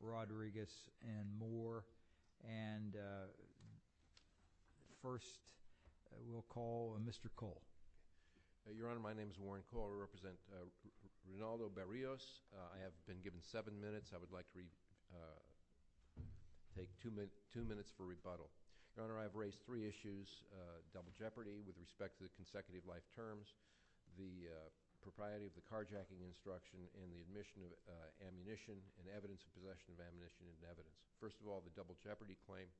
Rodriguez, and Moore. And first, we'll call Mr. Cole. Your Honor, my name is Warren Cole. I represent Rinaldo Berrios. I have been given seven minutes. I would like to take two minutes for rebuttal. Your Honor, I have raised three issues, double jeopardy with respect to the consecutive life terms, the propriety of the carjacking instruction, and the admission of ammunition and evidence of possession of ammunition and evidence. First of all, the double jeopardy claim.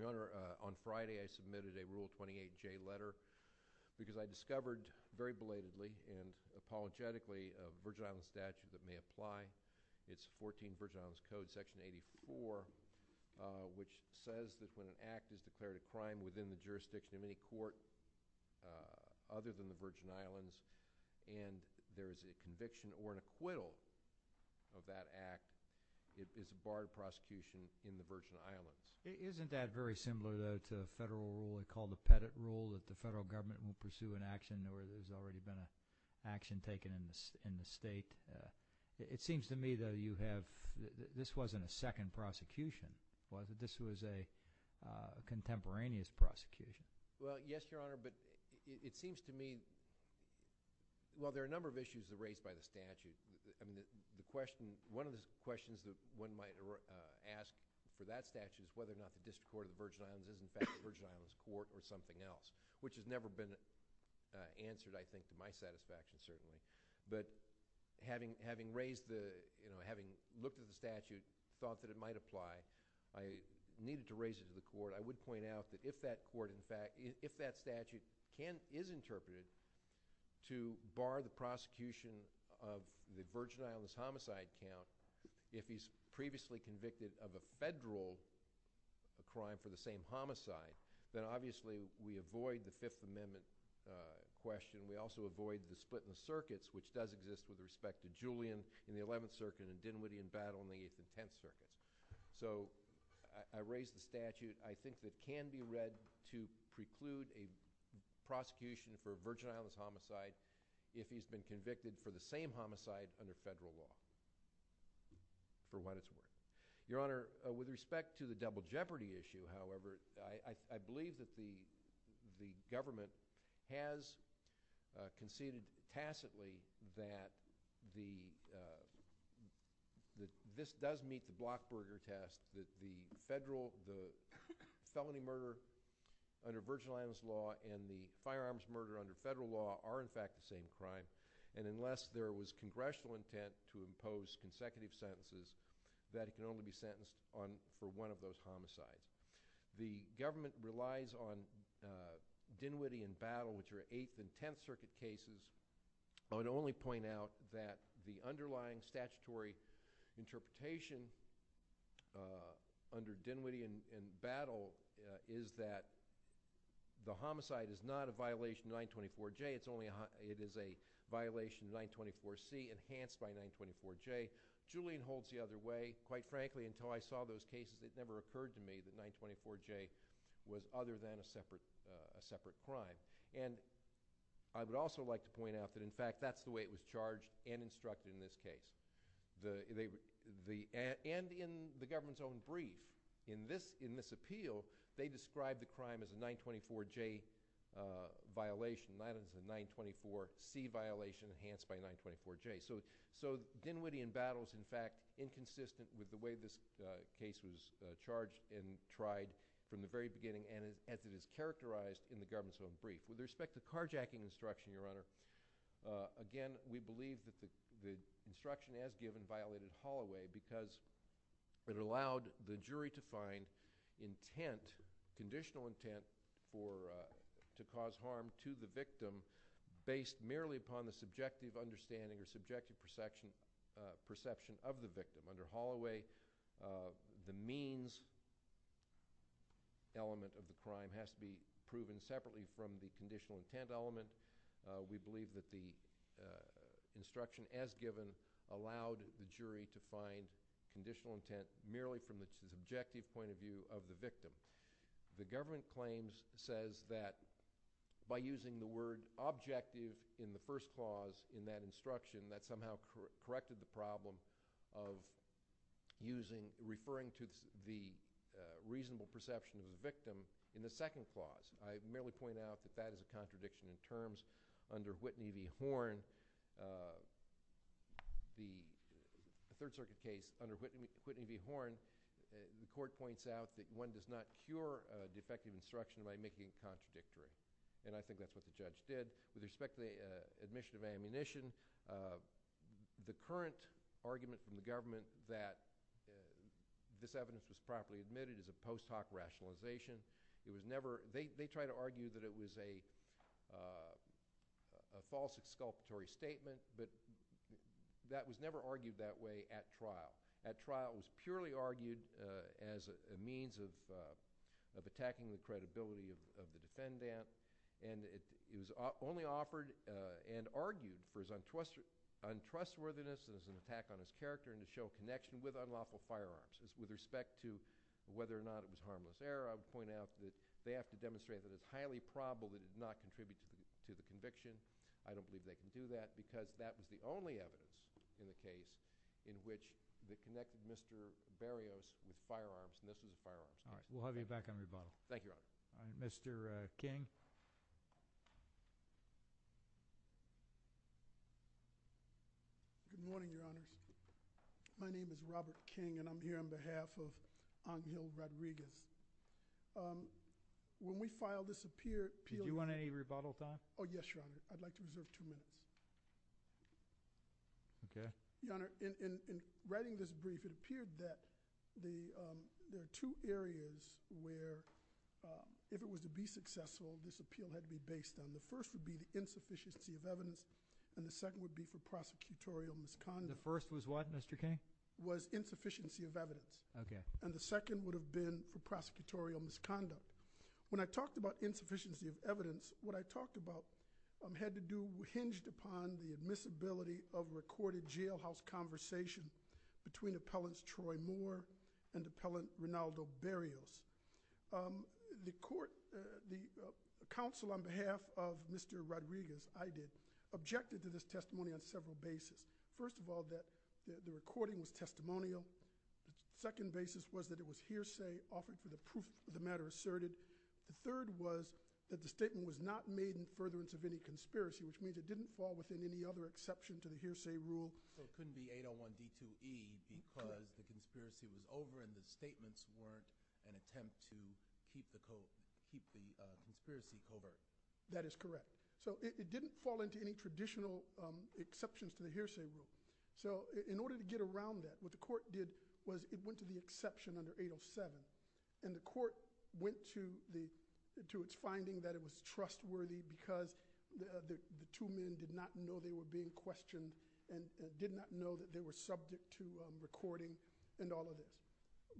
Your Honor, on Friday I submitted a Rule 28J letter because I discovered very belatedly and apologetically a Virgin Islands statute that may apply. It's 14 Virgin Islands Code Section 84, which says that when an act is declared a crime within the jurisdiction of any court other than the Virgin Islands, and there is a conviction or an acquittal of that act, it is a barred prosecution in the Virgin Islands. Isn't that very similar, though, to a federal rule called the Pettit Rule, that the federal government will pursue an action where there's already been an action taken in the state? It seems to me, though, you have... this wasn't a second prosecution, was it? This was a contemporaneous prosecution. Well, yes, Your Honor, but it seems to me... well, there are a number of issues raised by the statute. I mean, the question... one of the questions that one might ask for that statute is whether or not the District Court of the Virgin Islands is, in fact, a Virgin Islands court or something else, which has never been answered, I think, to my satisfaction, certainly. But having raised the... you know, having looked at the statute, thought that it might apply, I needed to raise it to the court. I would point out that if that court, in fact... if that statute can... is interpreted to bar the prosecution of the Virgin Islands homicide count, if he's previously convicted of a federal crime for the same homicide, then, obviously, we avoid the Fifth Amendment question. We also avoid the split in the circuits, which does exist with respect to Julian in the 11th Circuit and Dinwiddie and Battle in the 8th and 10th Circuits. So, I raised the statute. I think that it can be read to preclude a prosecution for a Virgin Islands homicide if he's been convicted for the same homicide under federal law, for what it's worth. Your Honor, with respect to the double jeopardy issue, however, I believe that the government has conceded tacitly that this does meet the blockburger test, that the felony murder under Virgin Islands law and the firearms murder under federal law are, in fact, the same crime, and unless there was congressional intent to impose consecutive sentences, that he can only be sentenced for one of those homicides. The government relies on Dinwiddie and Battle, which are 8th and 10th Circuit cases. I would only point out that the underlying statutory interpretation under Dinwiddie and Battle is that the homicide is not a violation of 924J. It is a violation of 924C enhanced by 924J. Julian holds the other way. Quite frankly, until I saw those cases, it never occurred to me that 924J was other than a separate crime. And I would also like to point out that, in fact, that's the way it was charged and instructed in this case. And in the government's own brief, in this appeal, they described the crime as a 924J violation, not as a 924C violation enhanced by 924J. So Dinwiddie and Battle is, in fact, inconsistent with the way this case was charged and tried from the very beginning and as it is characterized in the government's own brief. With respect to carjacking instruction, Your Honor, again, we believe that the instruction as given violated Holloway because it allowed the jury to find intent, conditional intent, to cause harm to the victim based merely upon the subjective understanding or subjective perception of the victim. Under Holloway, the means element of the crime has to be proven separately from the conditional intent element. We believe that the instruction as given allowed the jury to find conditional intent merely from the subjective point of view of the victim. The government claims, says that by using the word objective in the first clause in that instruction, that somehow corrected the problem of using, referring to the reasonable perception of the victim in the second clause. I merely point out that that is a contradiction in terms. Under Whitney v. Horn, the Third Circuit case, under Whitney v. Horn, the court points out that one does not cure defective instruction by making it contradictory, and I think that's what the judge did. With respect to the admission of ammunition, the current argument from the government that this evidence was properly admitted is a post hoc rationalization. It was never – they try to argue that it was a false exculpatory statement, but that was never argued that way at trial. At trial, it was purely argued as a means of attacking the credibility of the defendant, and it was only offered and argued for his untrustworthiness and as an attack on his character and to show connection with unlawful firearms. With respect to whether or not it was harmless error, I would point out that they have to demonstrate that it's highly probable that it did not contribute to the conviction. I don't believe they can do that because that was the only evidence in the case in which they connected Mr. Barrios with firearms and this was the firearms case. All right. We'll have you back on rebuttal. Thank you, Your Honor. Mr. King. Good morning, Your Honors. My name is Robert King, and I'm here on behalf of Angel Rodriguez. When we filed this appeal – Do you want any rebuttal time? Oh, yes, Your Honor. I'd like to reserve two minutes. Okay. Your Honor, in writing this brief, it appeared that there are two areas where, if it was to be successful, this appeal had to be based on. The first would be the insufficiency of evidence, and the second would be for prosecutorial misconduct. The first was what, Mr. King? It was insufficiency of evidence. Okay. And the second would have been for prosecutorial misconduct. When I talked about insufficiency of evidence, what I talked about had to do, hinged upon the admissibility of a recorded jailhouse conversation between Appellant Troy Moore and Appellant Rinaldo Barrios. The court, the counsel on behalf of Mr. Rodriguez, I did, objected to this testimony on several bases. First of all, that the recording was testimonial. The second basis was that it was hearsay offered for the proof of the matter asserted. The third was that the statement was not made in furtherance of any conspiracy, which means it didn't fall within any other exception to the hearsay rule. So it couldn't be 801b2e because the conspiracy was over and the statements weren't an attempt to keep the conspiracy covert. That is correct. So it didn't fall into any traditional exceptions to the hearsay rule. So in order to get around that, what the court did was it went to the exception under 807, and the court went to its finding that it was trustworthy because the two men did not know they were being questioned and did not know that they were subject to recording and all of this.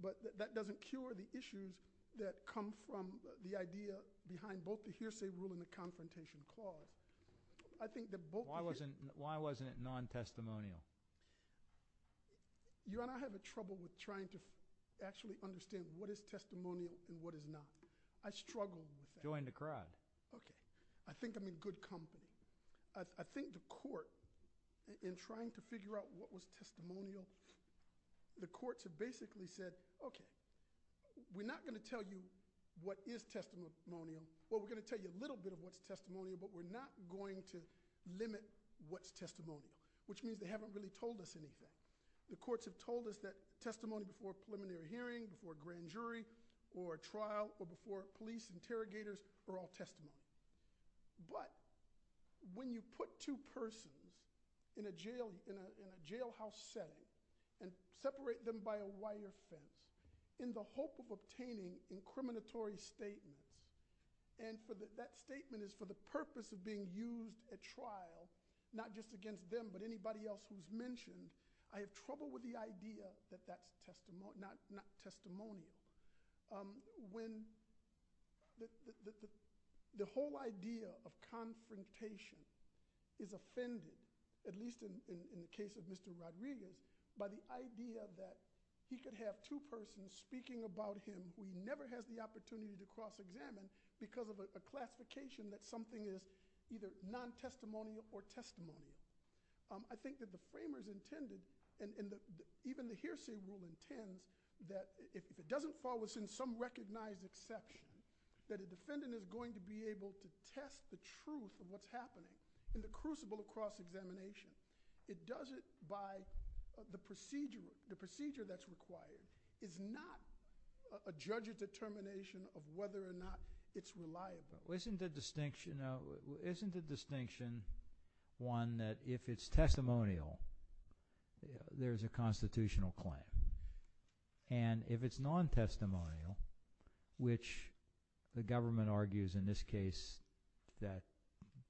But that doesn't cure the issues that come from the idea behind both the hearsay rule and the confrontation clause. Why wasn't it non-testimonial? Your Honor, I have trouble with trying to actually understand what is testimonial and what is not. I struggle with that. Join the crowd. Okay. I think I'm in good company. I think the court, in trying to figure out what was testimonial, the courts have basically said, okay, we're not going to tell you what is testimonial. Well, we're going to tell you a little bit of what's testimonial, but we're not going to limit what's testimonial, which means they haven't really told us anything. The courts have told us that testimony before a preliminary hearing, before a grand jury, or a trial, or before police interrogators are all testimony. But when you put two persons in a jailhouse setting and separate them by a wire fence in the hope of obtaining incriminatory statements, and that statement is for the purpose of being used at trial, not just against them, but anybody else who's mentioned, I have trouble with the idea that that's not testimonial. When the whole idea of confrontation is offended, at least in the case of Mr. Rodriguez, by the idea that he could have two persons speaking about him who he never has the opportunity to cross-examine because of a classification that something is either non-testimonial or testimonial. I think that the framers intended, and even the hearsay rule intends, that if it doesn't fall within some recognized exception, that a defendant is going to be able to test the truth of what's happening in the crucible of cross-examination. It does it by the procedure. The procedure that's required is not a judge's determination of whether or not it's reliable. Isn't the distinction one that if it's testimonial, there's a constitutional claim? And if it's non-testimonial, which the government argues in this case that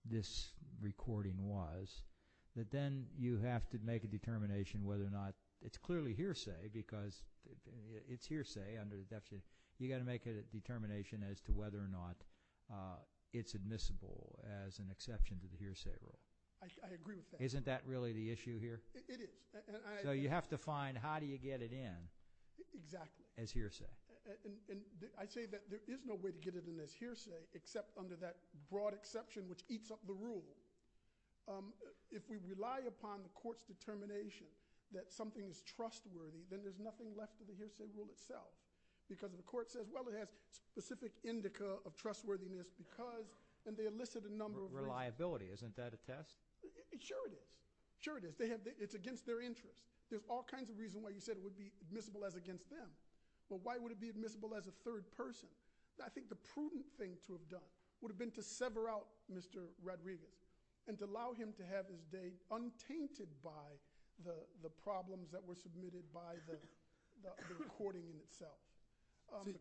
this recording was, that then you have to make a determination whether or not it's clearly hearsay because it's hearsay under the definition. You've got to make a determination as to whether or not it's admissible as an exception to the hearsay rule. I agree with that. Isn't that really the issue here? It is. So you have to find how do you get it in as hearsay. Exactly. I say that there is no way to get it in as hearsay except under that broad exception which eats up the rule. If we rely upon the court's determination that something is trustworthy, then there's nothing left of the hearsay rule itself because the court says, well, it has specific indica of trustworthiness and they elicit a number of reasons. Reliability. Isn't that a test? Sure it is. Sure it is. It's against their interest. There's all kinds of reasons why you said it would be admissible as against them. But why would it be admissible as a third person? I think the prudent thing to have done would have been to sever out Mr. Rodriguez and to allow him to have his day untainted by the problems that were submitted by the recording itself.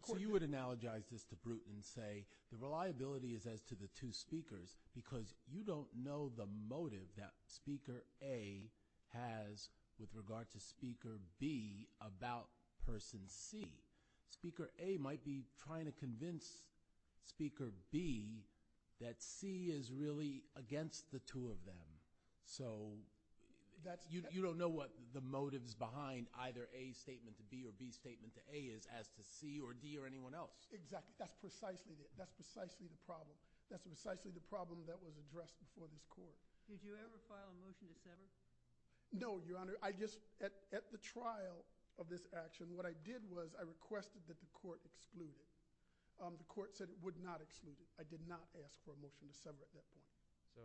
So you would analogize this to Bruton and say the reliability is as to the two speakers because you don't know the motive that speaker A has with regard to speaker B about person C. Speaker A might be trying to convince speaker B that C is really against the two of them. So you don't know what the motives behind either A's statement to B or B's statement to A is as to C or D or anyone else. Exactly. That's precisely the problem. That's precisely the problem that was addressed before this court. Did you ever file a motion to sever? No, Your Honor. At the trial of this action, what I did was I requested that the court exclude it. The court said it would not exclude it. I did not ask for a motion to sever at that point. So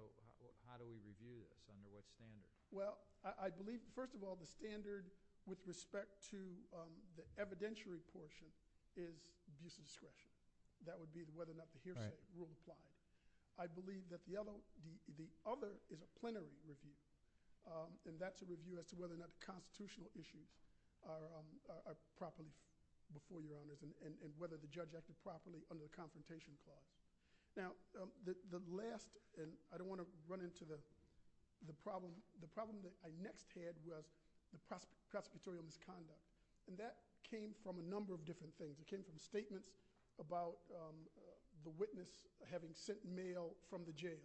how do we review this? Under what standard? Well, I believe, first of all, the standard with respect to the evidentiary portion is abuse of discretion. That would be whether or not the hearsay rule applies. I believe that the other is a plenary review. That's a review as to whether or not the constitutional issues are properly before Your Honors and whether the judge acted properly under the Confrontation Clause. Now, the last, and I don't want to run into the problem, the problem that I next had was the prosecutorial misconduct. That came from a number of different things. It came from statements about the witness having sent mail from the jail,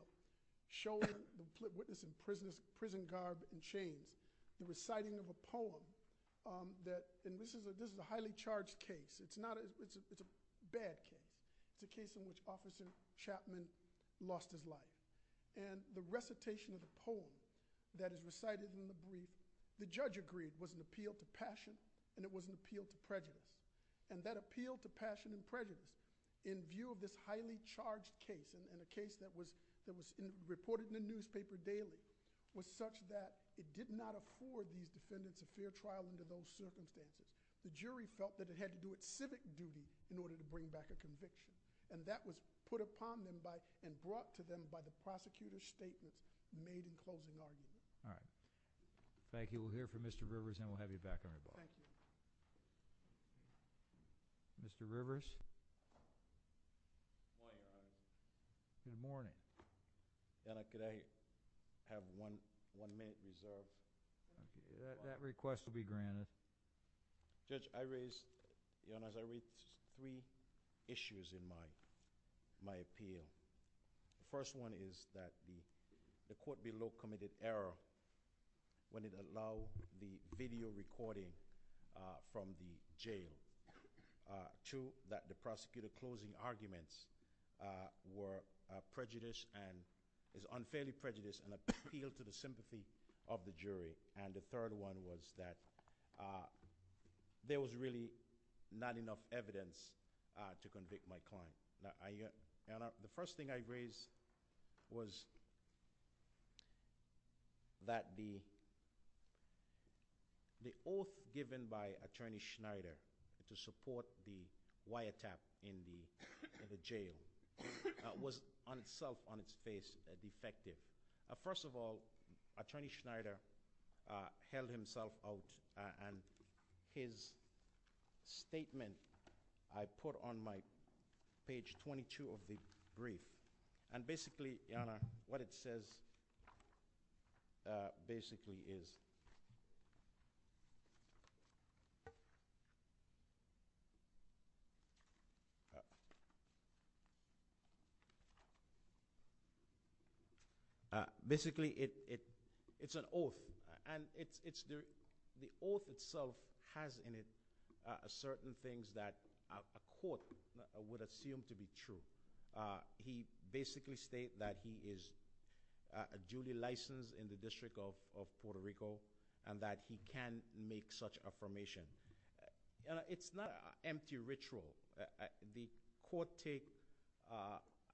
showing the witness in prison garb and chains, reciting of a poem. This is a highly charged case. It's a bad case. It's a case in which Officer Chapman lost his life. The recitation of the poem that is recited in the brief, the judge agreed was an appeal to passion and it was an appeal to prejudice. That appeal to passion and prejudice in view of this highly charged case and a case that was reported in the newspaper daily was such that it did not accord these defendants a fair trial under those circumstances. The jury felt that it had to do with civic duty in order to bring back a conviction. That was put upon them and brought to them by the prosecutor's statement made in closing argument. All right. Thank you. We'll hear from Mr. Rivers and we'll have you back on the ball. Thank you. Mr. Rivers? Good morning, Your Honor. Good morning. Your Honor, could I have one minute reserved? That request will be granted. Judge, I raise, Your Honor, I raise three issues in my appeal. The first one is that the court below committed error when it allowed the video recording from the jail to that the prosecutor closing arguments were prejudiced and is unfairly prejudiced and appealed to the sympathy of the jury. And the third one was that there was really not enough evidence to convict my client. The first thing I raise was that the oath given by Attorney Schneider to support the wiretap in the jail was on itself, on its face, defective. First of all, Attorney Schneider held himself out and his statement I put on my page 22 of the brief. And basically, Your Honor, what it says basically is Basically, it's an oath. And the oath itself has in it certain things that a court would assume to be true. He basically states that he is duly licensed in the District of Puerto Rico and that he can make such affirmation. It's not an empty ritual. The court take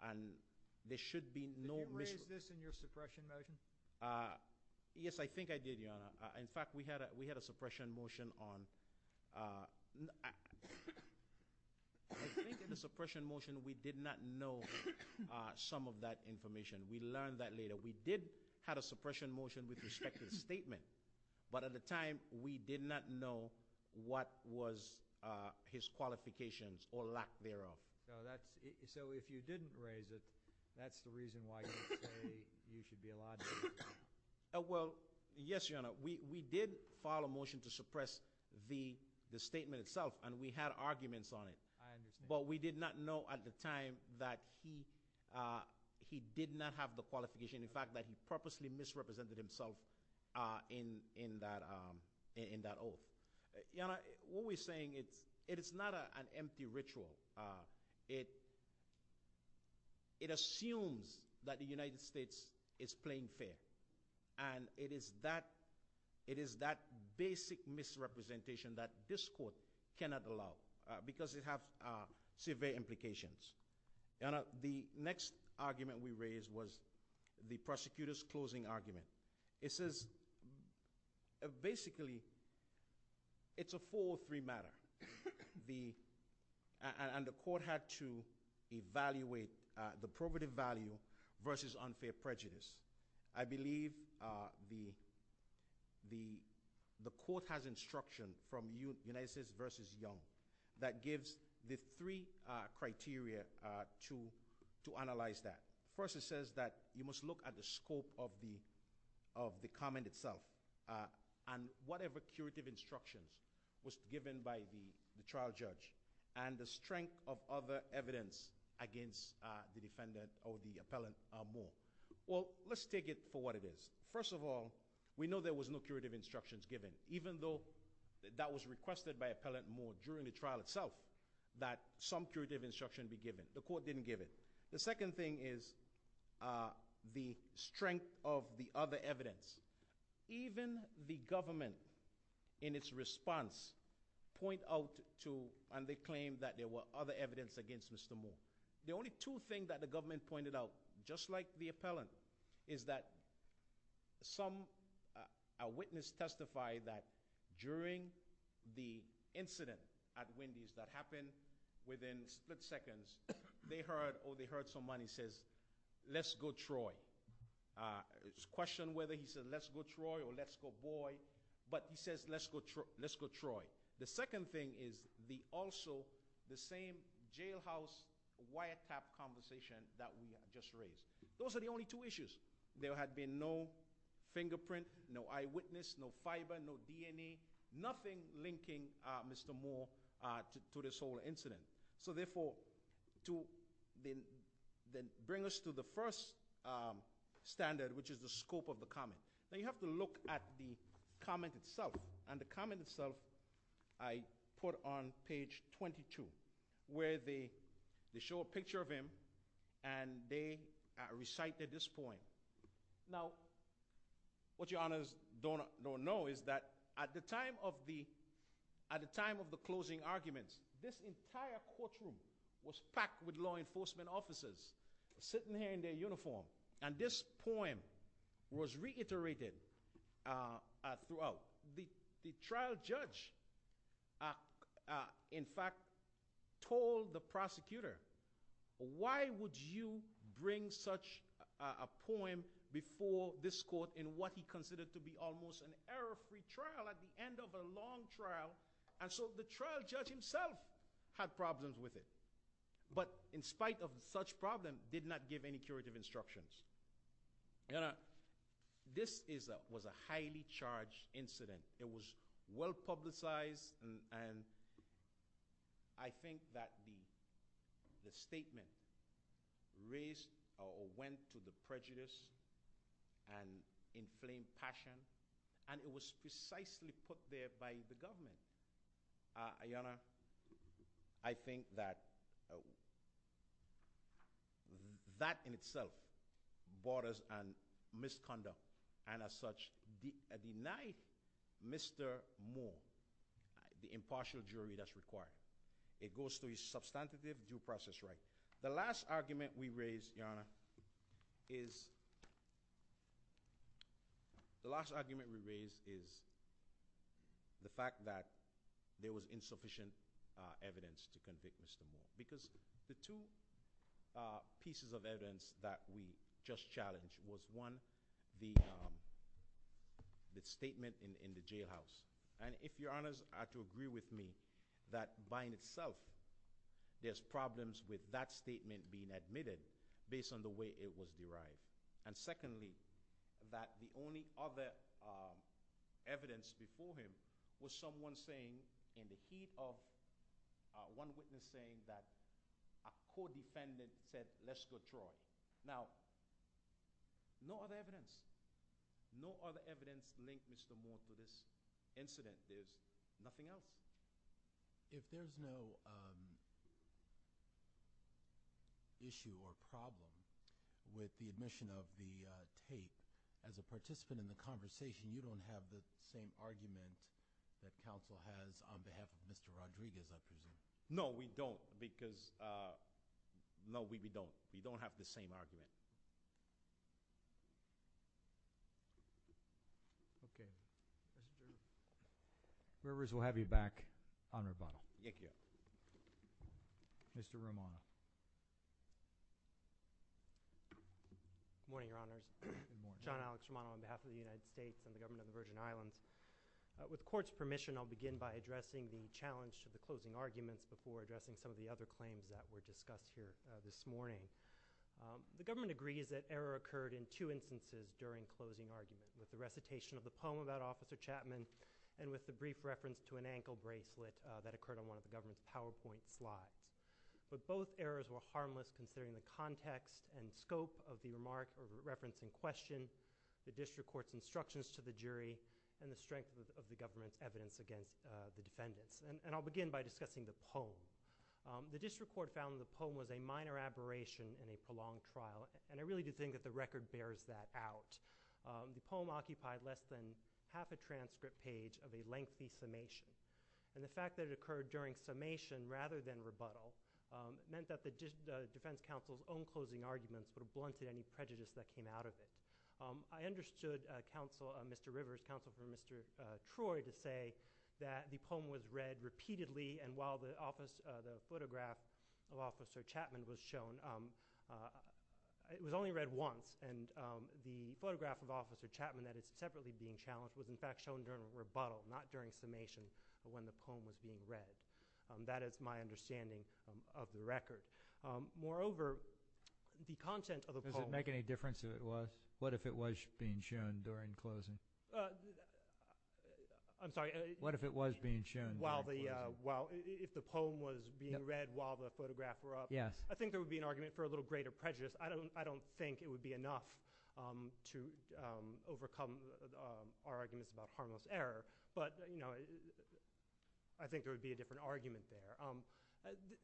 and there should be no mis- Did you raise this in your suppression motion? Yes, I think I did, Your Honor. In fact, we had a suppression motion on I think in the suppression motion we did not know some of that information. We learned that later. We did have a suppression motion with respect to the statement. But at the time, we did not know what was his qualifications or lack thereof. So if you didn't raise it, that's the reason why you say you should be allowed to. Well, yes, Your Honor. We did file a motion to suppress the statement itself, and we had arguments on it. But we did not know at the time that he did not have the qualification. In fact, that he purposely misrepresented himself in that oath. Your Honor, what we're saying is it's not an empty ritual. It assumes that the United States is playing fair, and it is that basic misrepresentation that this court cannot allow because it has severe implications. Your Honor, the next argument we raised was the prosecutor's closing argument. It says basically it's a 403 matter. And the court had to evaluate the probative value versus unfair prejudice. I believe the court has instruction from United States v. Young that gives the three criteria to analyze that. First, it says that you must look at the scope of the comment itself. And whatever curative instructions was given by the trial judge and the strength of other evidence against the defendant or the appellant are more. Well, let's take it for what it is. First of all, we know there was no curative instructions given, even though that was requested by Appellant Moore during the trial itself, that some curative instruction be given. The court didn't give it. The second thing is the strength of the other evidence. Even the government, in its response, point out to and they claim that there were other evidence against Mr. Moore. The only two things that the government pointed out, just like the appellant, is that a witness testified that during the incident at Wendy's that happened within split seconds, they heard somebody say, let's go, Troy. It's questioned whether he said, let's go, Troy, or let's go, boy. But he says, let's go, Troy. The second thing is also the same jailhouse wiretap conversation that we just raised. Those are the only two issues. There had been no fingerprint, no eyewitness, no fiber, no DNA, nothing linking Mr. Moore to this whole incident. So, therefore, to bring us to the first standard, which is the scope of the comment. You have to look at the comment itself. The comment itself I put on page 22, where they show a picture of him and they recite this point. Now, what Your Honors don't know is that at the time of the closing arguments, this entire courtroom was packed with law enforcement officers sitting here in their uniform, and this poem was reiterated throughout. The trial judge, in fact, told the prosecutor, why would you bring such a poem before this court in what he considered to be almost an error-free trial at the end of a long trial? And so the trial judge himself had problems with it, but in spite of such problems, did not give any curative instructions. This was a highly charged incident. It was well-publicized, and I think that the statement raised or went to the prejudice and inflamed passion, and it was precisely put there by the government. Your Honor, I think that that in itself borders on misconduct, and as such, denied Mr. Moore the impartial jury that's required. It goes to his substantive due process right. The last argument we raised, Your Honor, is the fact that there was insufficient evidence to convict Mr. Moore, because the two pieces of evidence that we just challenged was, one, the statement in the jailhouse, and if Your Honors are to agree with me, that by itself, there's problems with that statement being admitted, based on the way it was derived. And secondly, that the only other evidence before him was someone saying, in the heat of one witness saying that a co-defendant said, let's go through it. Now, no other evidence. No other evidence linked Mr. Moore to this incident. There's nothing else. If there's no issue or problem with the admission of the tape, as a participant in the conversation, you don't have the same argument that counsel has on behalf of Mr. Rodriguez, I presume. No, we don't, because – no, we don't. We don't have the same argument. Okay. Members, we'll have you back on rebuttal. Thank you. Mr. Romano. Good morning, Your Honors. Good morning. John Alex Romano on behalf of the United States and the Government of the Virgin Islands. With the Court's permission, I'll begin by addressing the challenge to the closing arguments before addressing some of the other claims that were discussed here this morning. The Government agrees that error occurred in two instances during closing arguments, with the recitation of the poem about Officer Chapman and with the brief reference to an ankle bracelet that occurred on one of the Government's PowerPoint slides. But both errors were harmless considering the context and scope of the reference in question, the District Court's instructions to the jury, and the strength of the Government's evidence against the defendants. And I'll begin by discussing the poem. The District Court found that the poem was a minor aberration in a prolonged trial, and I really do think that the record bears that out. The poem occupied less than half a transcript page of a lengthy summation, and the fact that it occurred during summation rather than rebuttal meant that the Defense Counsel's own closing arguments would have blunted any prejudice that came out of it. I understood Mr. Rivers, Counsel for Mr. Troy, to say that the poem was read repeatedly, and while the photograph of Officer Chapman was shown, it was only read once, and the photograph of Officer Chapman that is separately being challenged was in fact shown during rebuttal, not during summation, but when the poem was being read. That is my understanding of the record. Moreover, the content of the poem- Does it make any difference if it was? What if it was being shown during closing? I'm sorry? What if it was being shown during closing? If the poem was being read while the photograph was up? Yes. I think there would be an argument for a little greater prejudice. I don't think it would be enough to overcome our arguments about harmless error, but I think there would be a different argument there.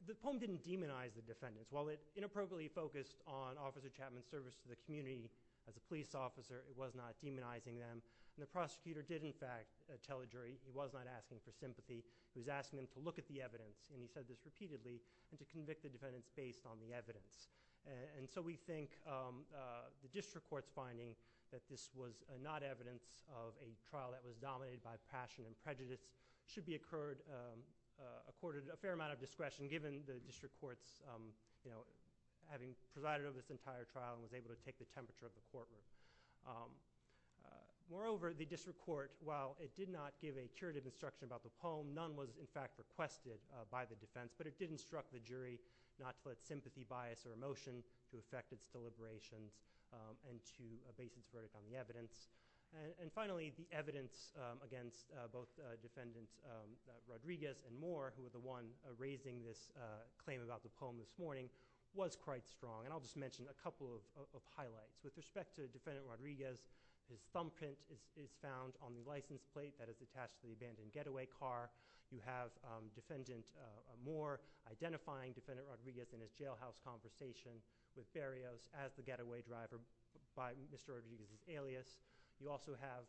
The poem didn't demonize the defendants. While it inappropriately focused on Officer Chapman's service to the community as a police officer, it was not demonizing them, and the prosecutor did in fact tell the jury, he was not asking for sympathy, he was asking them to look at the evidence, and he said this repeatedly, and to convict the defendants based on the evidence. And so we think the district court's finding that this was not evidence of a trial that was dominated by passion and prejudice should be accorded a fair amount of discretion given the district court's having presided over this entire trial and was able to take the temperature of the courtroom. Moreover, the district court, while it did not give a curative instruction about the poem, none was in fact requested by the defense, but it did instruct the jury not to put sympathy, bias, or emotion to affect its deliberations and to base its verdict on the evidence. And finally, the evidence against both Defendants Rodriguez and Moore, who were the ones raising this claim about the poem this morning, was quite strong. And I'll just mention a couple of highlights. With respect to Defendant Rodriguez, his thumbprint is found on the license plate that is attached to the abandoned getaway car. You have Defendant Moore identifying Defendant Rodriguez in his jailhouse conversation You also have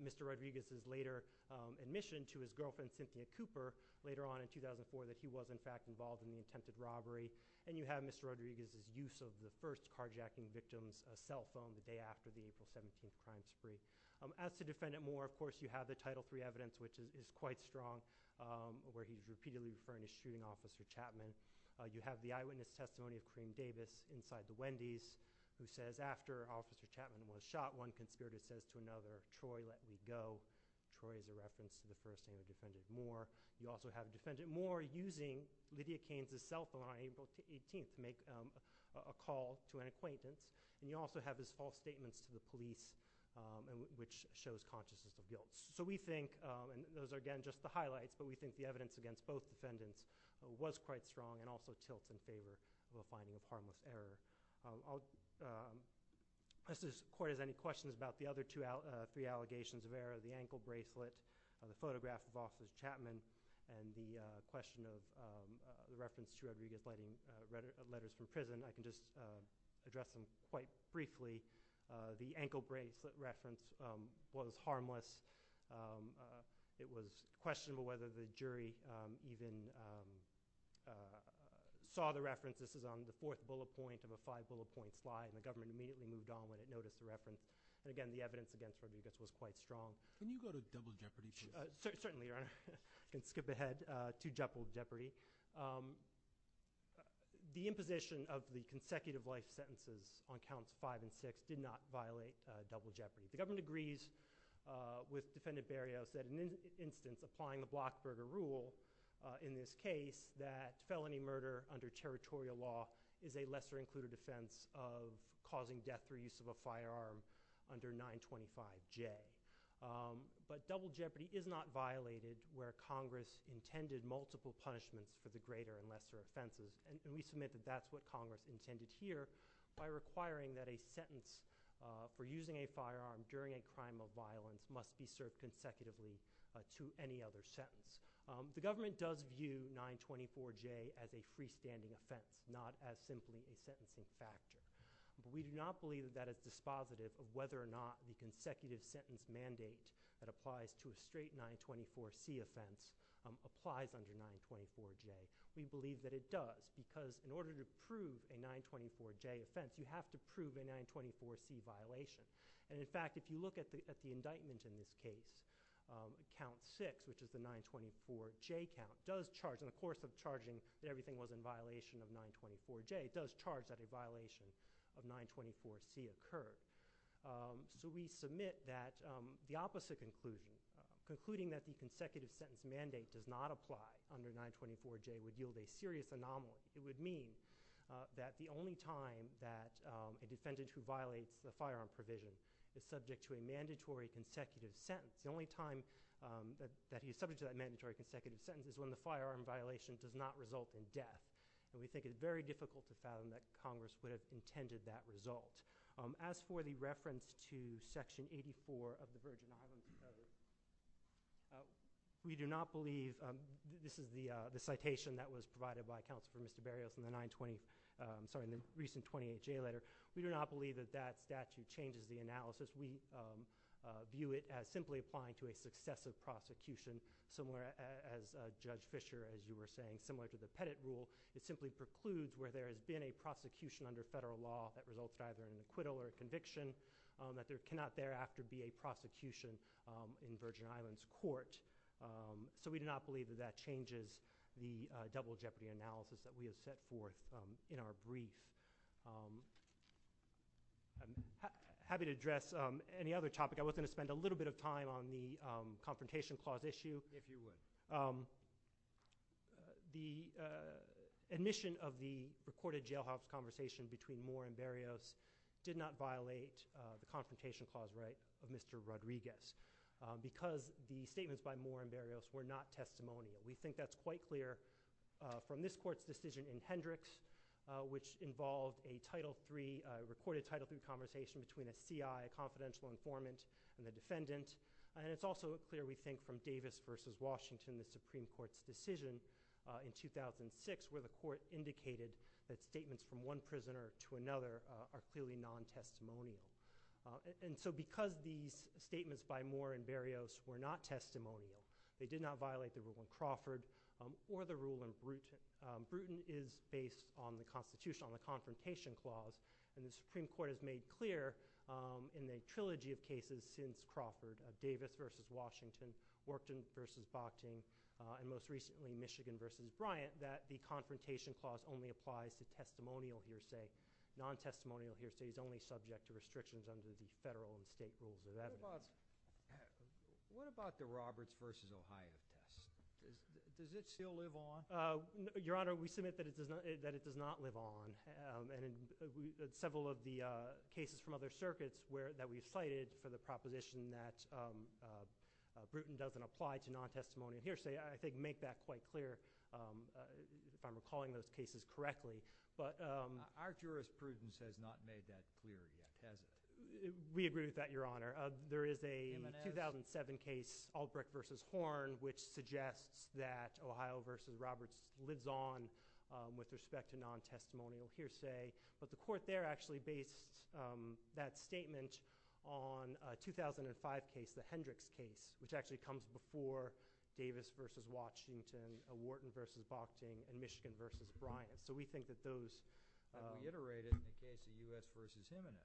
Mr. Rodriguez's later admission to his girlfriend, Cynthia Cooper, later on in 2004 that he was in fact involved in the attempted robbery. And you have Mr. Rodriguez's use of the first carjacking victim's cell phone the day after the April 17th crime spree. As to Defendant Moore, of course, you have the Title III evidence, which is quite strong, where he's repeatedly referring to shooting Officer Chapman. You have the eyewitness testimony of Karine Davis inside the Wendy's who says after Officer Chapman was shot, one conspirator says to another, Troy, let me go. Troy is a reference to the person who defended Moore. You also have Defendant Moore using Lydia Keynes' cell phone on April 18th to make a call to an acquaintance. And you also have his false statements to the police, which shows consciousness of guilt. So we think, and those are again just the highlights, but we think the evidence against both Defendants was quite strong and also tilts in favor of a finding of harmless error. I'll ask this Court if there's any questions about the other three allegations of error, the ankle bracelet, the photograph of Officer Chapman, and the question of the reference to Rodriguez writing letters from prison. I can just address them quite briefly. The ankle bracelet reference was harmless. It was questionable whether the jury even saw the reference. This is on the fourth bullet point of a five-bullet point slide, and the government immediately moved on when it noticed the reference. And again, the evidence against Rodriguez was quite strong. Can you go to double jeopardy? Certainly, Your Honor. I can skip ahead to double jeopardy. The imposition of the consecutive life sentences on counts five and six did not violate double jeopardy. The government agrees with Defendant Berrios that in this instance, applying the block murder rule in this case, that felony murder under territorial law is a lesser included offense of causing death through use of a firearm under 925J. But double jeopardy is not violated where Congress intended multiple punishments for the greater and lesser offenses, and we submit that that's what Congress intended here by requiring that a sentence for using a firearm during a crime of violence must be served consecutively to any other sentence. The government does view 924J as a freestanding offense, not as simply a sentencing factor. We do not believe that that is dispositive of whether or not the consecutive sentence mandate that applies to a straight 924C offense applies under 924J. We believe that it does because in order to prove a 924J offense, you have to prove a 924C violation. And, in fact, if you look at the indictment in this case, count six, which is the 924J count, does charge, in the course of charging that everything was in violation of 924J, it does charge that a violation of 924C occurred. So we submit that the opposite concluding, concluding that the consecutive sentence mandate does not apply under 924J would yield a serious anomaly. It would mean that the only time that a defendant who violates the firearm provision is subject to a mandatory consecutive sentence, the only time that he's subject to that mandatory consecutive sentence is when the firearm violation does not result in death. And we think it's very difficult to fathom that Congress would have intended that result. As for the reference to Section 84 of the Virgin Islands Covenant, we do not believe, this is the citation that was provided by Counselor Mr. Berrios in the 920, sorry, in the recent 28J letter, we do not believe that that statute changes the analysis. We view it as simply applying to a successive prosecution, similar as Judge Fischer, as you were saying, similar to the Pettit rule. It simply precludes where there has been a prosecution under federal law that results in either an acquittal or a conviction, that there cannot thereafter be a prosecution in Virgin Islands Court. So we do not believe that that changes the double jeopardy analysis that we have set forth in our brief. I'm happy to address any other topic. I was going to spend a little bit of time on the Confrontation Clause issue. If you would. The admission of the recorded jailhouse conversation between Moore and Berrios did not violate the Confrontation Clause right of Mr. Rodriguez because the statements by Moore and Berrios were not testimonial. We think that's quite clear from this court's decision in Hendricks, which involved a recorded Title III conversation between a CI, a confidential informant, and a defendant. It's also clear, we think, from Davis v. Washington, the Supreme Court's decision in 2006, where the court indicated that statements from one prisoner to another are clearly non-testimonial. So because these statements by Moore and Berrios were not testimonial, they did not violate the rule in Crawford or the rule in Bruton. Bruton is based on the Constitution, on the Confrontation Clause, and the Supreme Court has made clear in the trilogy of cases since Crawford, of Davis v. Washington, Workton v. Bochting, and most recently Michigan v. Bryant, that the Confrontation Clause only applies to testimonial hearsay. Non-testimonial hearsay is only subject to restrictions under the federal and state rules of evidence. What about the Roberts v. Ohio case? Does it still live on? Your Honor, we submit that it does not live on. And in several of the cases from other circuits that we've cited for the proposition that Bruton doesn't apply to non-testimonial hearsay, I think make that quite clear, if I'm recalling those cases correctly. Our jurisprudence has not made that clear yet, has it? We agree with that, Your Honor. There is a 2007 case, Albrecht v. Horn, which suggests that Ohio v. Roberts lives on with respect to non-testimonial hearsay. But the Court there actually based that statement on a 2005 case, the Hendricks case, which actually comes before Davis v. Washington, Warton v. Bochting, and Michigan v. Bryant. So we think that those— I've reiterated the case of U.S. v. Jimenez.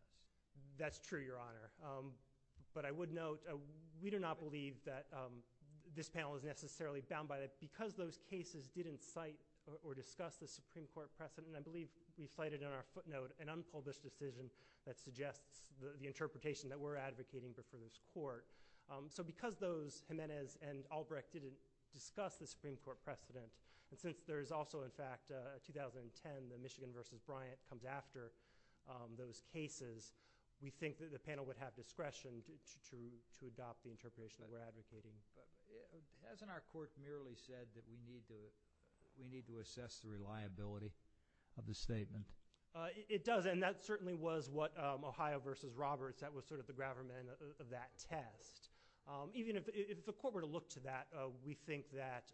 That's true, Your Honor. But I would note, we do not believe that this panel is necessarily bound by that. Because those cases didn't cite or discuss the Supreme Court precedent, and I believe we've cited in our footnote an unpublished decision that suggests the interpretation that we're advocating for this Court. So because those Jimenez and Albrecht didn't discuss the Supreme Court precedent, and since there is also, in fact, a 2010, the Michigan v. Bryant comes after those cases, we think that the panel would have discretion to adopt the interpretation that we're advocating. Hasn't our Court merely said that we need to assess the reliability of the statement? It does, and that certainly was what Ohio v. Roberts, that was sort of the gravamen of that test. Even if the Court were to look to that, we think that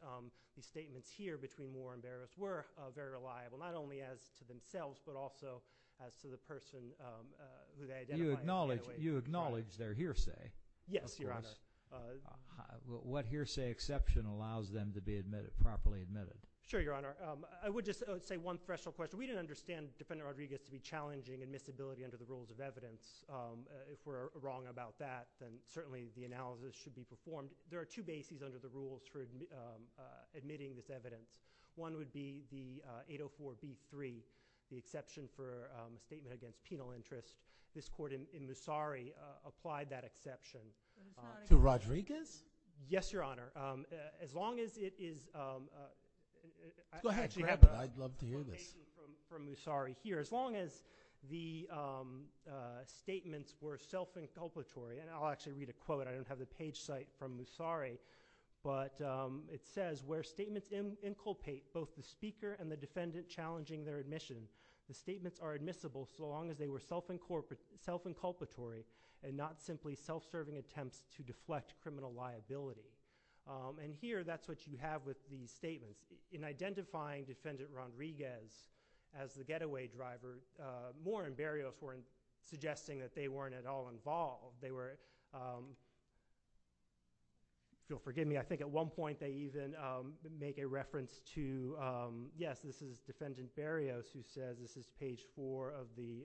the statements here between Moore and Barrett were very reliable, not only as to themselves, but also as to the person who they identified. You acknowledge their hearsay? Yes, Your Honor. What hearsay exception allows them to be properly admitted? Sure, Your Honor. I would just say one threshold question. We didn't understand Defendant Rodriguez to be challenging admissibility under the rules of evidence. If we're wrong about that, then certainly the analysis should be performed. There are two bases under the rules for admitting this evidence. One would be the 804B3, the exception for a statement against penal interest. This Court in Musari applied that exception. To Rodriguez? Yes, Your Honor. As long as it is – Go ahead. Grab it. I'd love to hear this. – from Musari here. As long as the statements were self-inculpatory – and I'll actually read a quote. I don't have the page cite from Musari. But it says, where statements inculpate both the speaker and the defendant challenging their admission, the statements are admissible so long as they were self-inculpatory and not simply self-serving attempts to deflect criminal liability. And here, that's what you have with these statements. In identifying Defendant Rodriguez as the getaway driver, Moore and Berrios weren't suggesting that they weren't at all involved. They were – if you'll forgive me, I think at one point they even make a reference to – as this is page 4 of the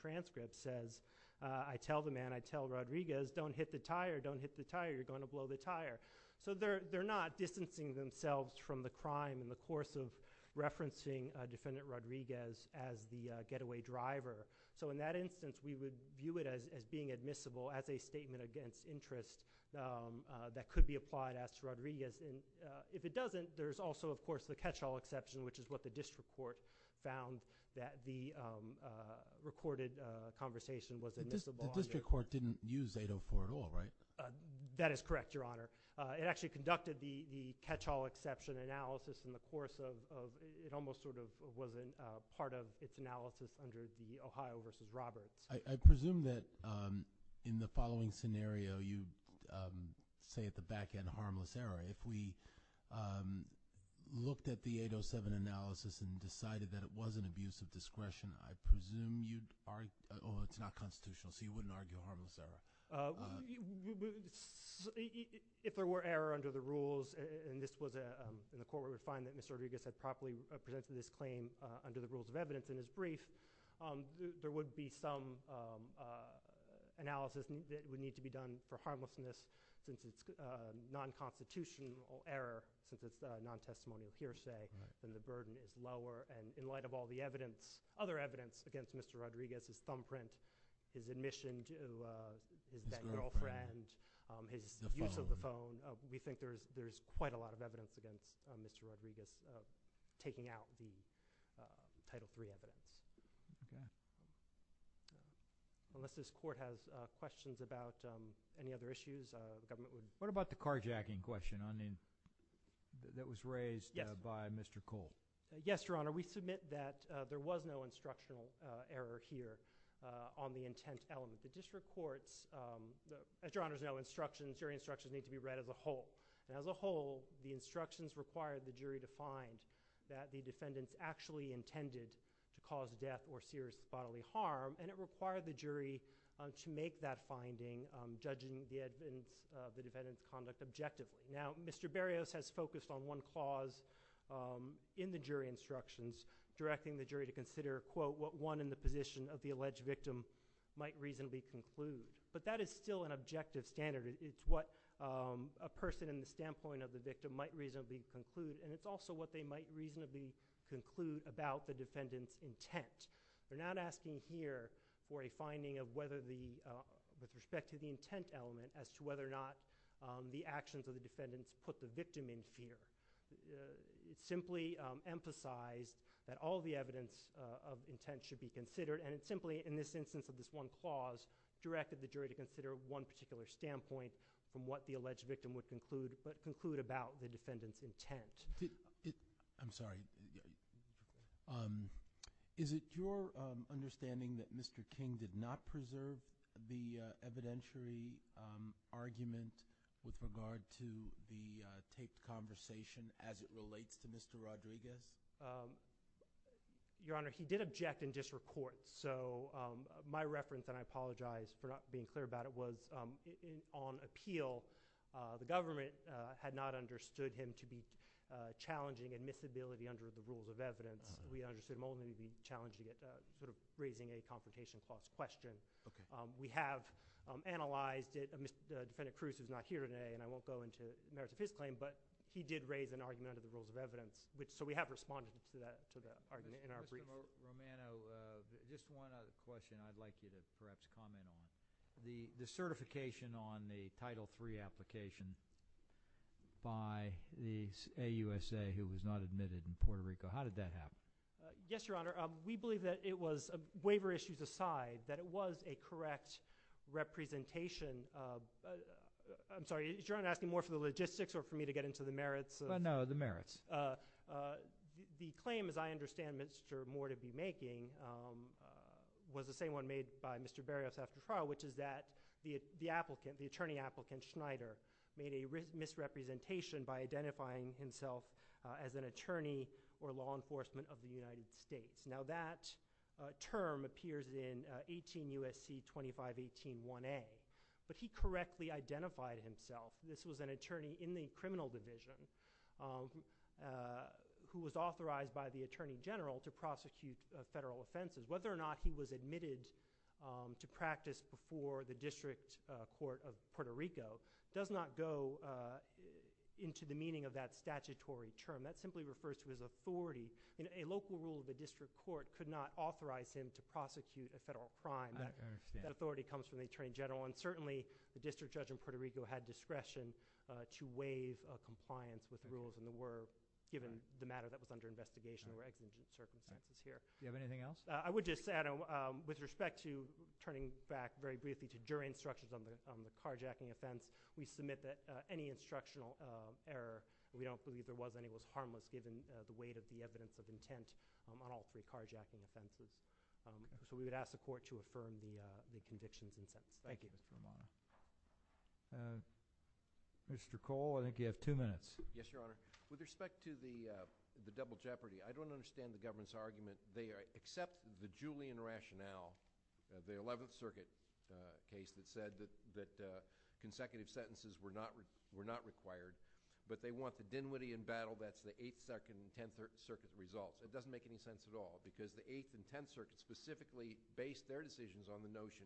transcript says, I tell the man, I tell Rodriguez, don't hit the tire, don't hit the tire, you're going to blow the tire. So they're not distancing themselves from the crime in the course of referencing Defendant Rodriguez as the getaway driver. So in that instance, we would view it as being admissible as a statement against interest that could be applied as to Rodriguez. If it doesn't, there's also, of course, the catch-all exception, which is what the district court found that the recorded conversation was admissible. The district court didn't use 804 at all, right? That is correct, Your Honor. It actually conducted the catch-all exception analysis in the course of – it almost sort of wasn't part of its analysis under the Ohio v. Roberts. I presume that in the following scenario, you say at the back end, harmless error. If we looked at the 807 analysis and decided that it was an abuse of discretion, I presume you'd argue – oh, it's not constitutional, so you wouldn't argue a harmless error. If there were error under the rules, and this was in the court where we find that Mr. Rodriguez had properly presented his claim under the rules of evidence in his brief, there would be some analysis that would need to be done for harmlessness since it's non-constitutional error, since it's non-testimony of hearsay, then the burden is lower. In light of all the other evidence against Mr. Rodriguez, his thumbprint, his admission to that girlfriend, his use of the phone, we think there's quite a lot of evidence against Mr. Rodriguez of taking out the Title III evidence. Okay. Unless this court has questions about any other issues, the government would – What about the carjacking question that was raised by Mr. Cole? Yes, Your Honor. We submit that there was no instructional error here on the intent element. The district courts – as Your Honors know, jury instructions need to be read as a whole. As a whole, the instructions required the jury to find that the defendants actually intended to cause death or serious bodily harm, and it required the jury to make that finding, judging the defendants' conduct objectively. Now, Mr. Berrios has focused on one clause in the jury instructions, directing the jury to consider, quote, what one in the position of the alleged victim might reasonably conclude. But that is still an objective standard. It's what a person in the standpoint of the victim might reasonably conclude, and it's also what they might reasonably conclude about the defendant's intent. We're not asking here for a finding with respect to the intent element as to whether or not the actions of the defendants put the victim in fear. It simply emphasized that all the evidence of intent should be considered, and it simply, in this instance of this one clause, directed the jury to consider one particular standpoint from what the alleged victim would conclude about the defendant's intent. I'm sorry. Is it your understanding that Mr. King did not preserve the evidentiary argument with regard to the taped conversation as it relates to Mr. Rodriguez? Your Honor, he did object and disreport. So my reference, and I apologize for not being clear about it, was on appeal. The government had not understood him to be challenging admissibility under the rules of evidence. We understood him only to be challenging it, sort of raising a confrontation clause question. We have analyzed it. Defendant Cruz is not here today, and I won't go into the merits of his claim, but he did raise an argument under the rules of evidence. So we have responded to that argument in our brief. Mr. Romano, just one other question I'd like you to perhaps comment on. The certification on the Title III application by the AUSA who was not admitted in Puerto Rico, how did that happen? Yes, Your Honor. We believe that it was, waiver issues aside, that it was a correct representation. I'm sorry, is Your Honor asking more for the logistics or for me to get into the merits? No, the merits. The claim, as I understand Mr. Moore to be making, was the same one made by Mr. Berrios after trial, which is that the attorney applicant, Schneider, made a misrepresentation by identifying himself as an attorney or law enforcement of the United States. Now that term appears in 18 U.S.C. 2518.1a, but he correctly identified himself. This was an attorney in the criminal division who was authorized by the Attorney General to prosecute federal offenses. Whether or not he was admitted to practice before the District Court of Puerto Rico does not go into the meaning of that statutory term. That simply refers to his authority. A local rule of the District Court could not authorize him to prosecute a federal crime. I understand. That authority comes from the Attorney General, and certainly the District Judge in Puerto Rico had discretion to waive a compliance with rules in the ward given the matter that was under investigation or exigent circumstances here. Do you have anything else? I would just say, with respect to turning back very briefly to jury instructions on the carjacking offense, we submit that any instructional error, we don't believe there was any, was harmless given the weight of the evidence of intent on all three carjacking offenses. So we would ask the Court to affirm the convictions in this case. Thank you. Mr. Cole, I think you have two minutes. Yes, Your Honor. With respect to the double jeopardy, I don't understand the government's argument. They accept the Julian rationale, the 11th Circuit case, that said that consecutive sentences were not required, but they want the Dinwiddie and Battle, that's the 8th, 2nd, and 10th Circuit results. It doesn't make any sense at all, because the 8th and 10th Circuit specifically based their decisions on the notion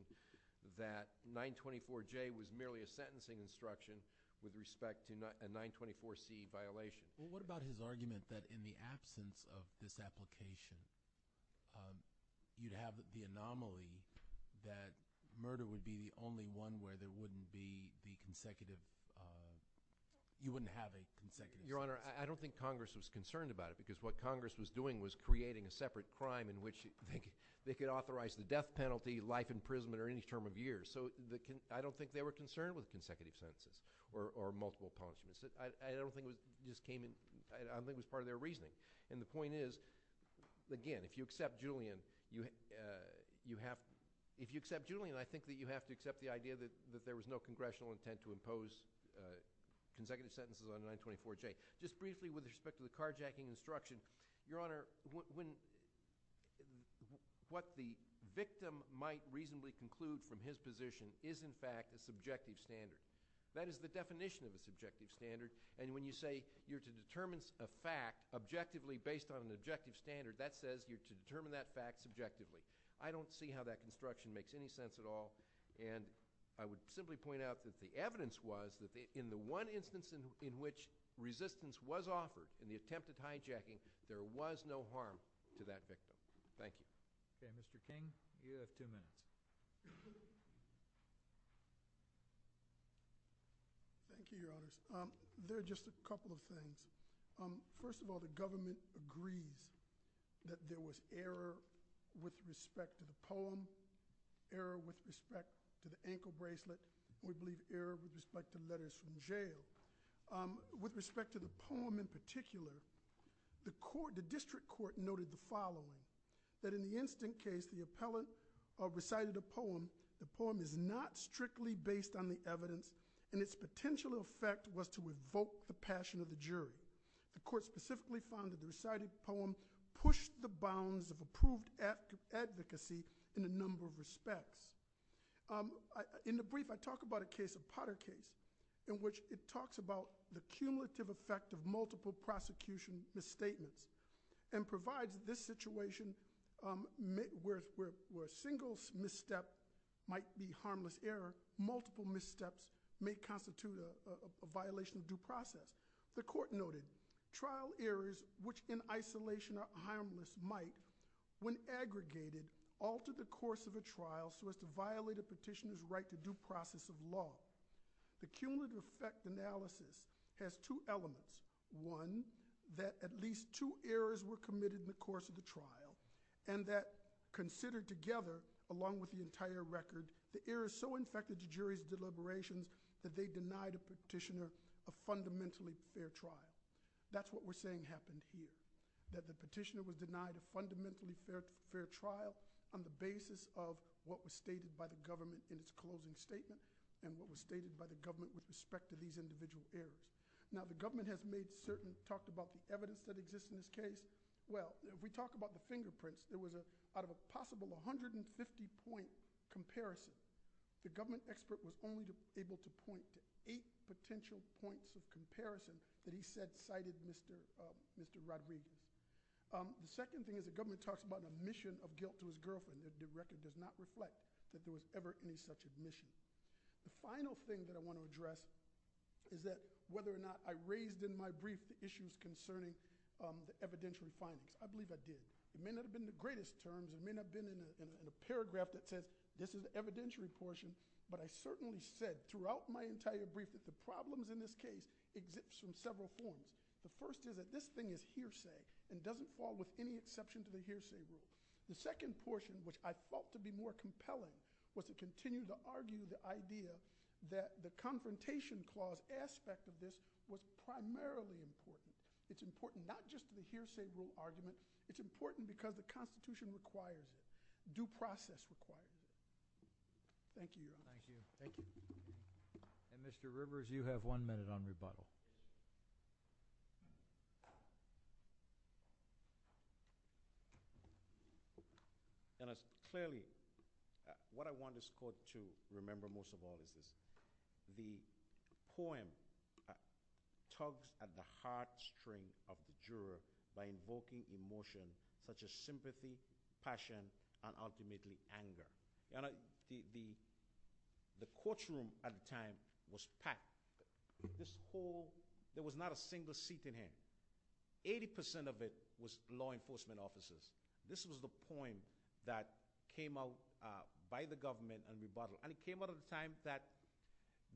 that 924J was merely a sentencing instruction with respect to a 924C violation. Well, what about his argument that in the absence of this application, you'd have the anomaly that murder would be the only one where there wouldn't be the consecutive, you wouldn't have a consecutive sentence? Your Honor, I don't think Congress was concerned about it because what Congress was doing was creating a separate crime in which they could authorize the death penalty, life imprisonment, or any term of years. So I don't think they were concerned with consecutive sentences or multiple punishments. I don't think it just came in, I don't think it was part of their reasoning. And the point is, again, if you accept Julian, I think that you have to accept the idea that there was no congressional intent to impose consecutive sentences on 924J. Just briefly with respect to the carjacking instruction, Your Honor, what the victim might reasonably conclude from his position is in fact a subjective standard. That is the definition of a subjective standard. And when you say you're to determine a fact objectively based on an objective standard, that says you're to determine that fact subjectively. I don't see how that construction makes any sense at all. And I would simply point out that the evidence was that in the one instance in which resistance was offered in the attempt at hijacking, there was no harm to that victim. Thank you. Okay, Mr. King, you have two minutes. Thank you, Your Honors. There are just a couple of things. First of all, the government agrees that there was error with respect to the poem, error with respect to the ankle bracelet, or I believe error with respect to letters from jail. With respect to the poem in particular, the district court noted the following, that in the instant case the appellant recited a poem, the poem is not strictly based on the evidence and its potential effect was to evoke the passion of the jury. The court specifically found that the recited poem pushed the bounds of approved advocacy in a number of respects. In the brief, I talk about a case, a Potter case, in which it talks about the cumulative effect of multiple prosecution misstatements and provides this situation where a single misstep might be harmless error, multiple missteps may constitute a violation of due process. The court noted trial errors which in isolation are harmless might, when aggregated, alter the course of a trial so as to violate a petitioner's right to due process of law. The cumulative effect analysis has two elements. One, that at least two errors were committed in the course of the trial and that considered together, along with the entire record, the errors so infected the jury's deliberations that they denied a petitioner a fundamentally fair trial. That's what we're saying happened here, that the petitioner was denied a fundamentally fair trial on the basis of what was stated by the government in its closing statement and what was stated by the government with respect to these individual errors. Now, the government has made certain, talked about the evidence that exists in this case. Well, if we talk about the fingerprints, there was a, out of a possible 150 point comparison, the government expert was only able to point to eight potential points of comparison that he said cited Mr. Rodriguez. The second thing is the government talks about an admission of guilt to his girlfriend. The record does not reflect that there was ever any such admission. The final thing that I want to address is that whether or not I raised in my brief the issues concerning the evidentiary findings. I believe I did. It may not have been the greatest terms. It may not have been in a paragraph that said this is the evidentiary portion, but I certainly said throughout my entire brief that the problems in this case exist in several forms. The first is that this thing is hearsay and doesn't fall with any exception to the hearsay rule. The second portion, which I felt to be more compelling, was to continue to argue the idea that the confrontation clause aspect of this was primarily important. It's important not just to the hearsay rule argument. It's important because the Constitution requires it, due process requires it. Thank you. Thank you. Thank you. Mr. Rivers, you have one minute on rebuttal. Clearly, what I want this Court to remember most of all is this. The poem tugs at the heart string of the juror by invoking emotion such as sympathy, passion, and ultimately anger. The courtroom at the time was packed. There was not a single seat in here. Eighty percent of it was law enforcement officers. This was the poem that came out by the government on rebuttal, and it came out at a time that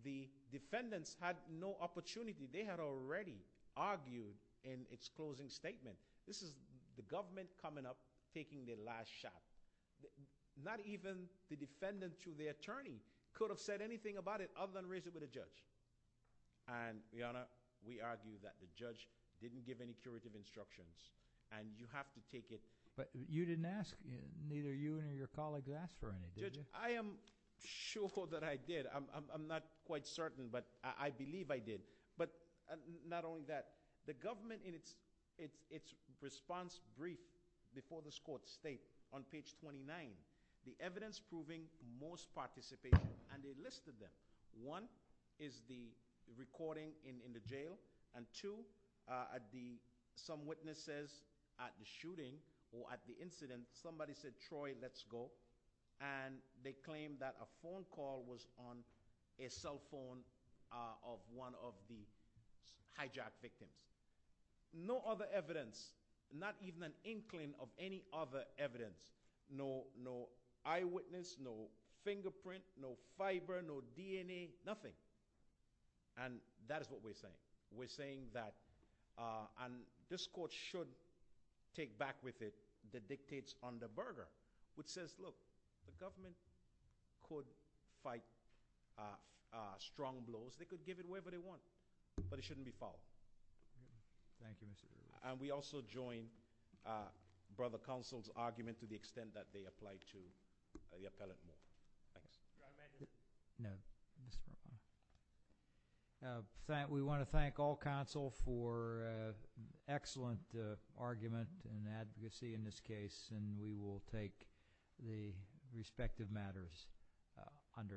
the defendants had no opportunity. They had already argued in its closing statement. This is the government coming up, taking their last shot. Not even the defendant to the attorney could have said anything about it other than raise it with a judge. And, Your Honor, we argue that the judge didn't give any curative instructions, and you have to take it. But you didn't ask. Neither you nor your colleagues asked for any, did you? Judge, I am sure that I did. I'm not quite certain, but I believe I did. But not only that, the government in its response brief before this court state, on page 29, the evidence proving most participation, and they listed them. One is the recording in the jail, and two, some witnesses at the shooting or at the incident, somebody said, Troy, let's go, and they claimed that a phone call was on a cell phone of one of the hijacked victims. No other evidence, not even an inkling of any other evidence. No eyewitness, no fingerprint, no fiber, no DNA, nothing. And that is what we're saying. We're saying that, and this court should take back with it the dictates on the burger, which says, look, the government could fight strong blows. They could give it away, but they won't. But it shouldn't be fouled. And we also join Brother Counsel's argument to the extent that they apply to the appellant. Thanks. No. We want to thank all counsel for an excellent argument and advocacy in this case, and we will take the respective matters under advisement.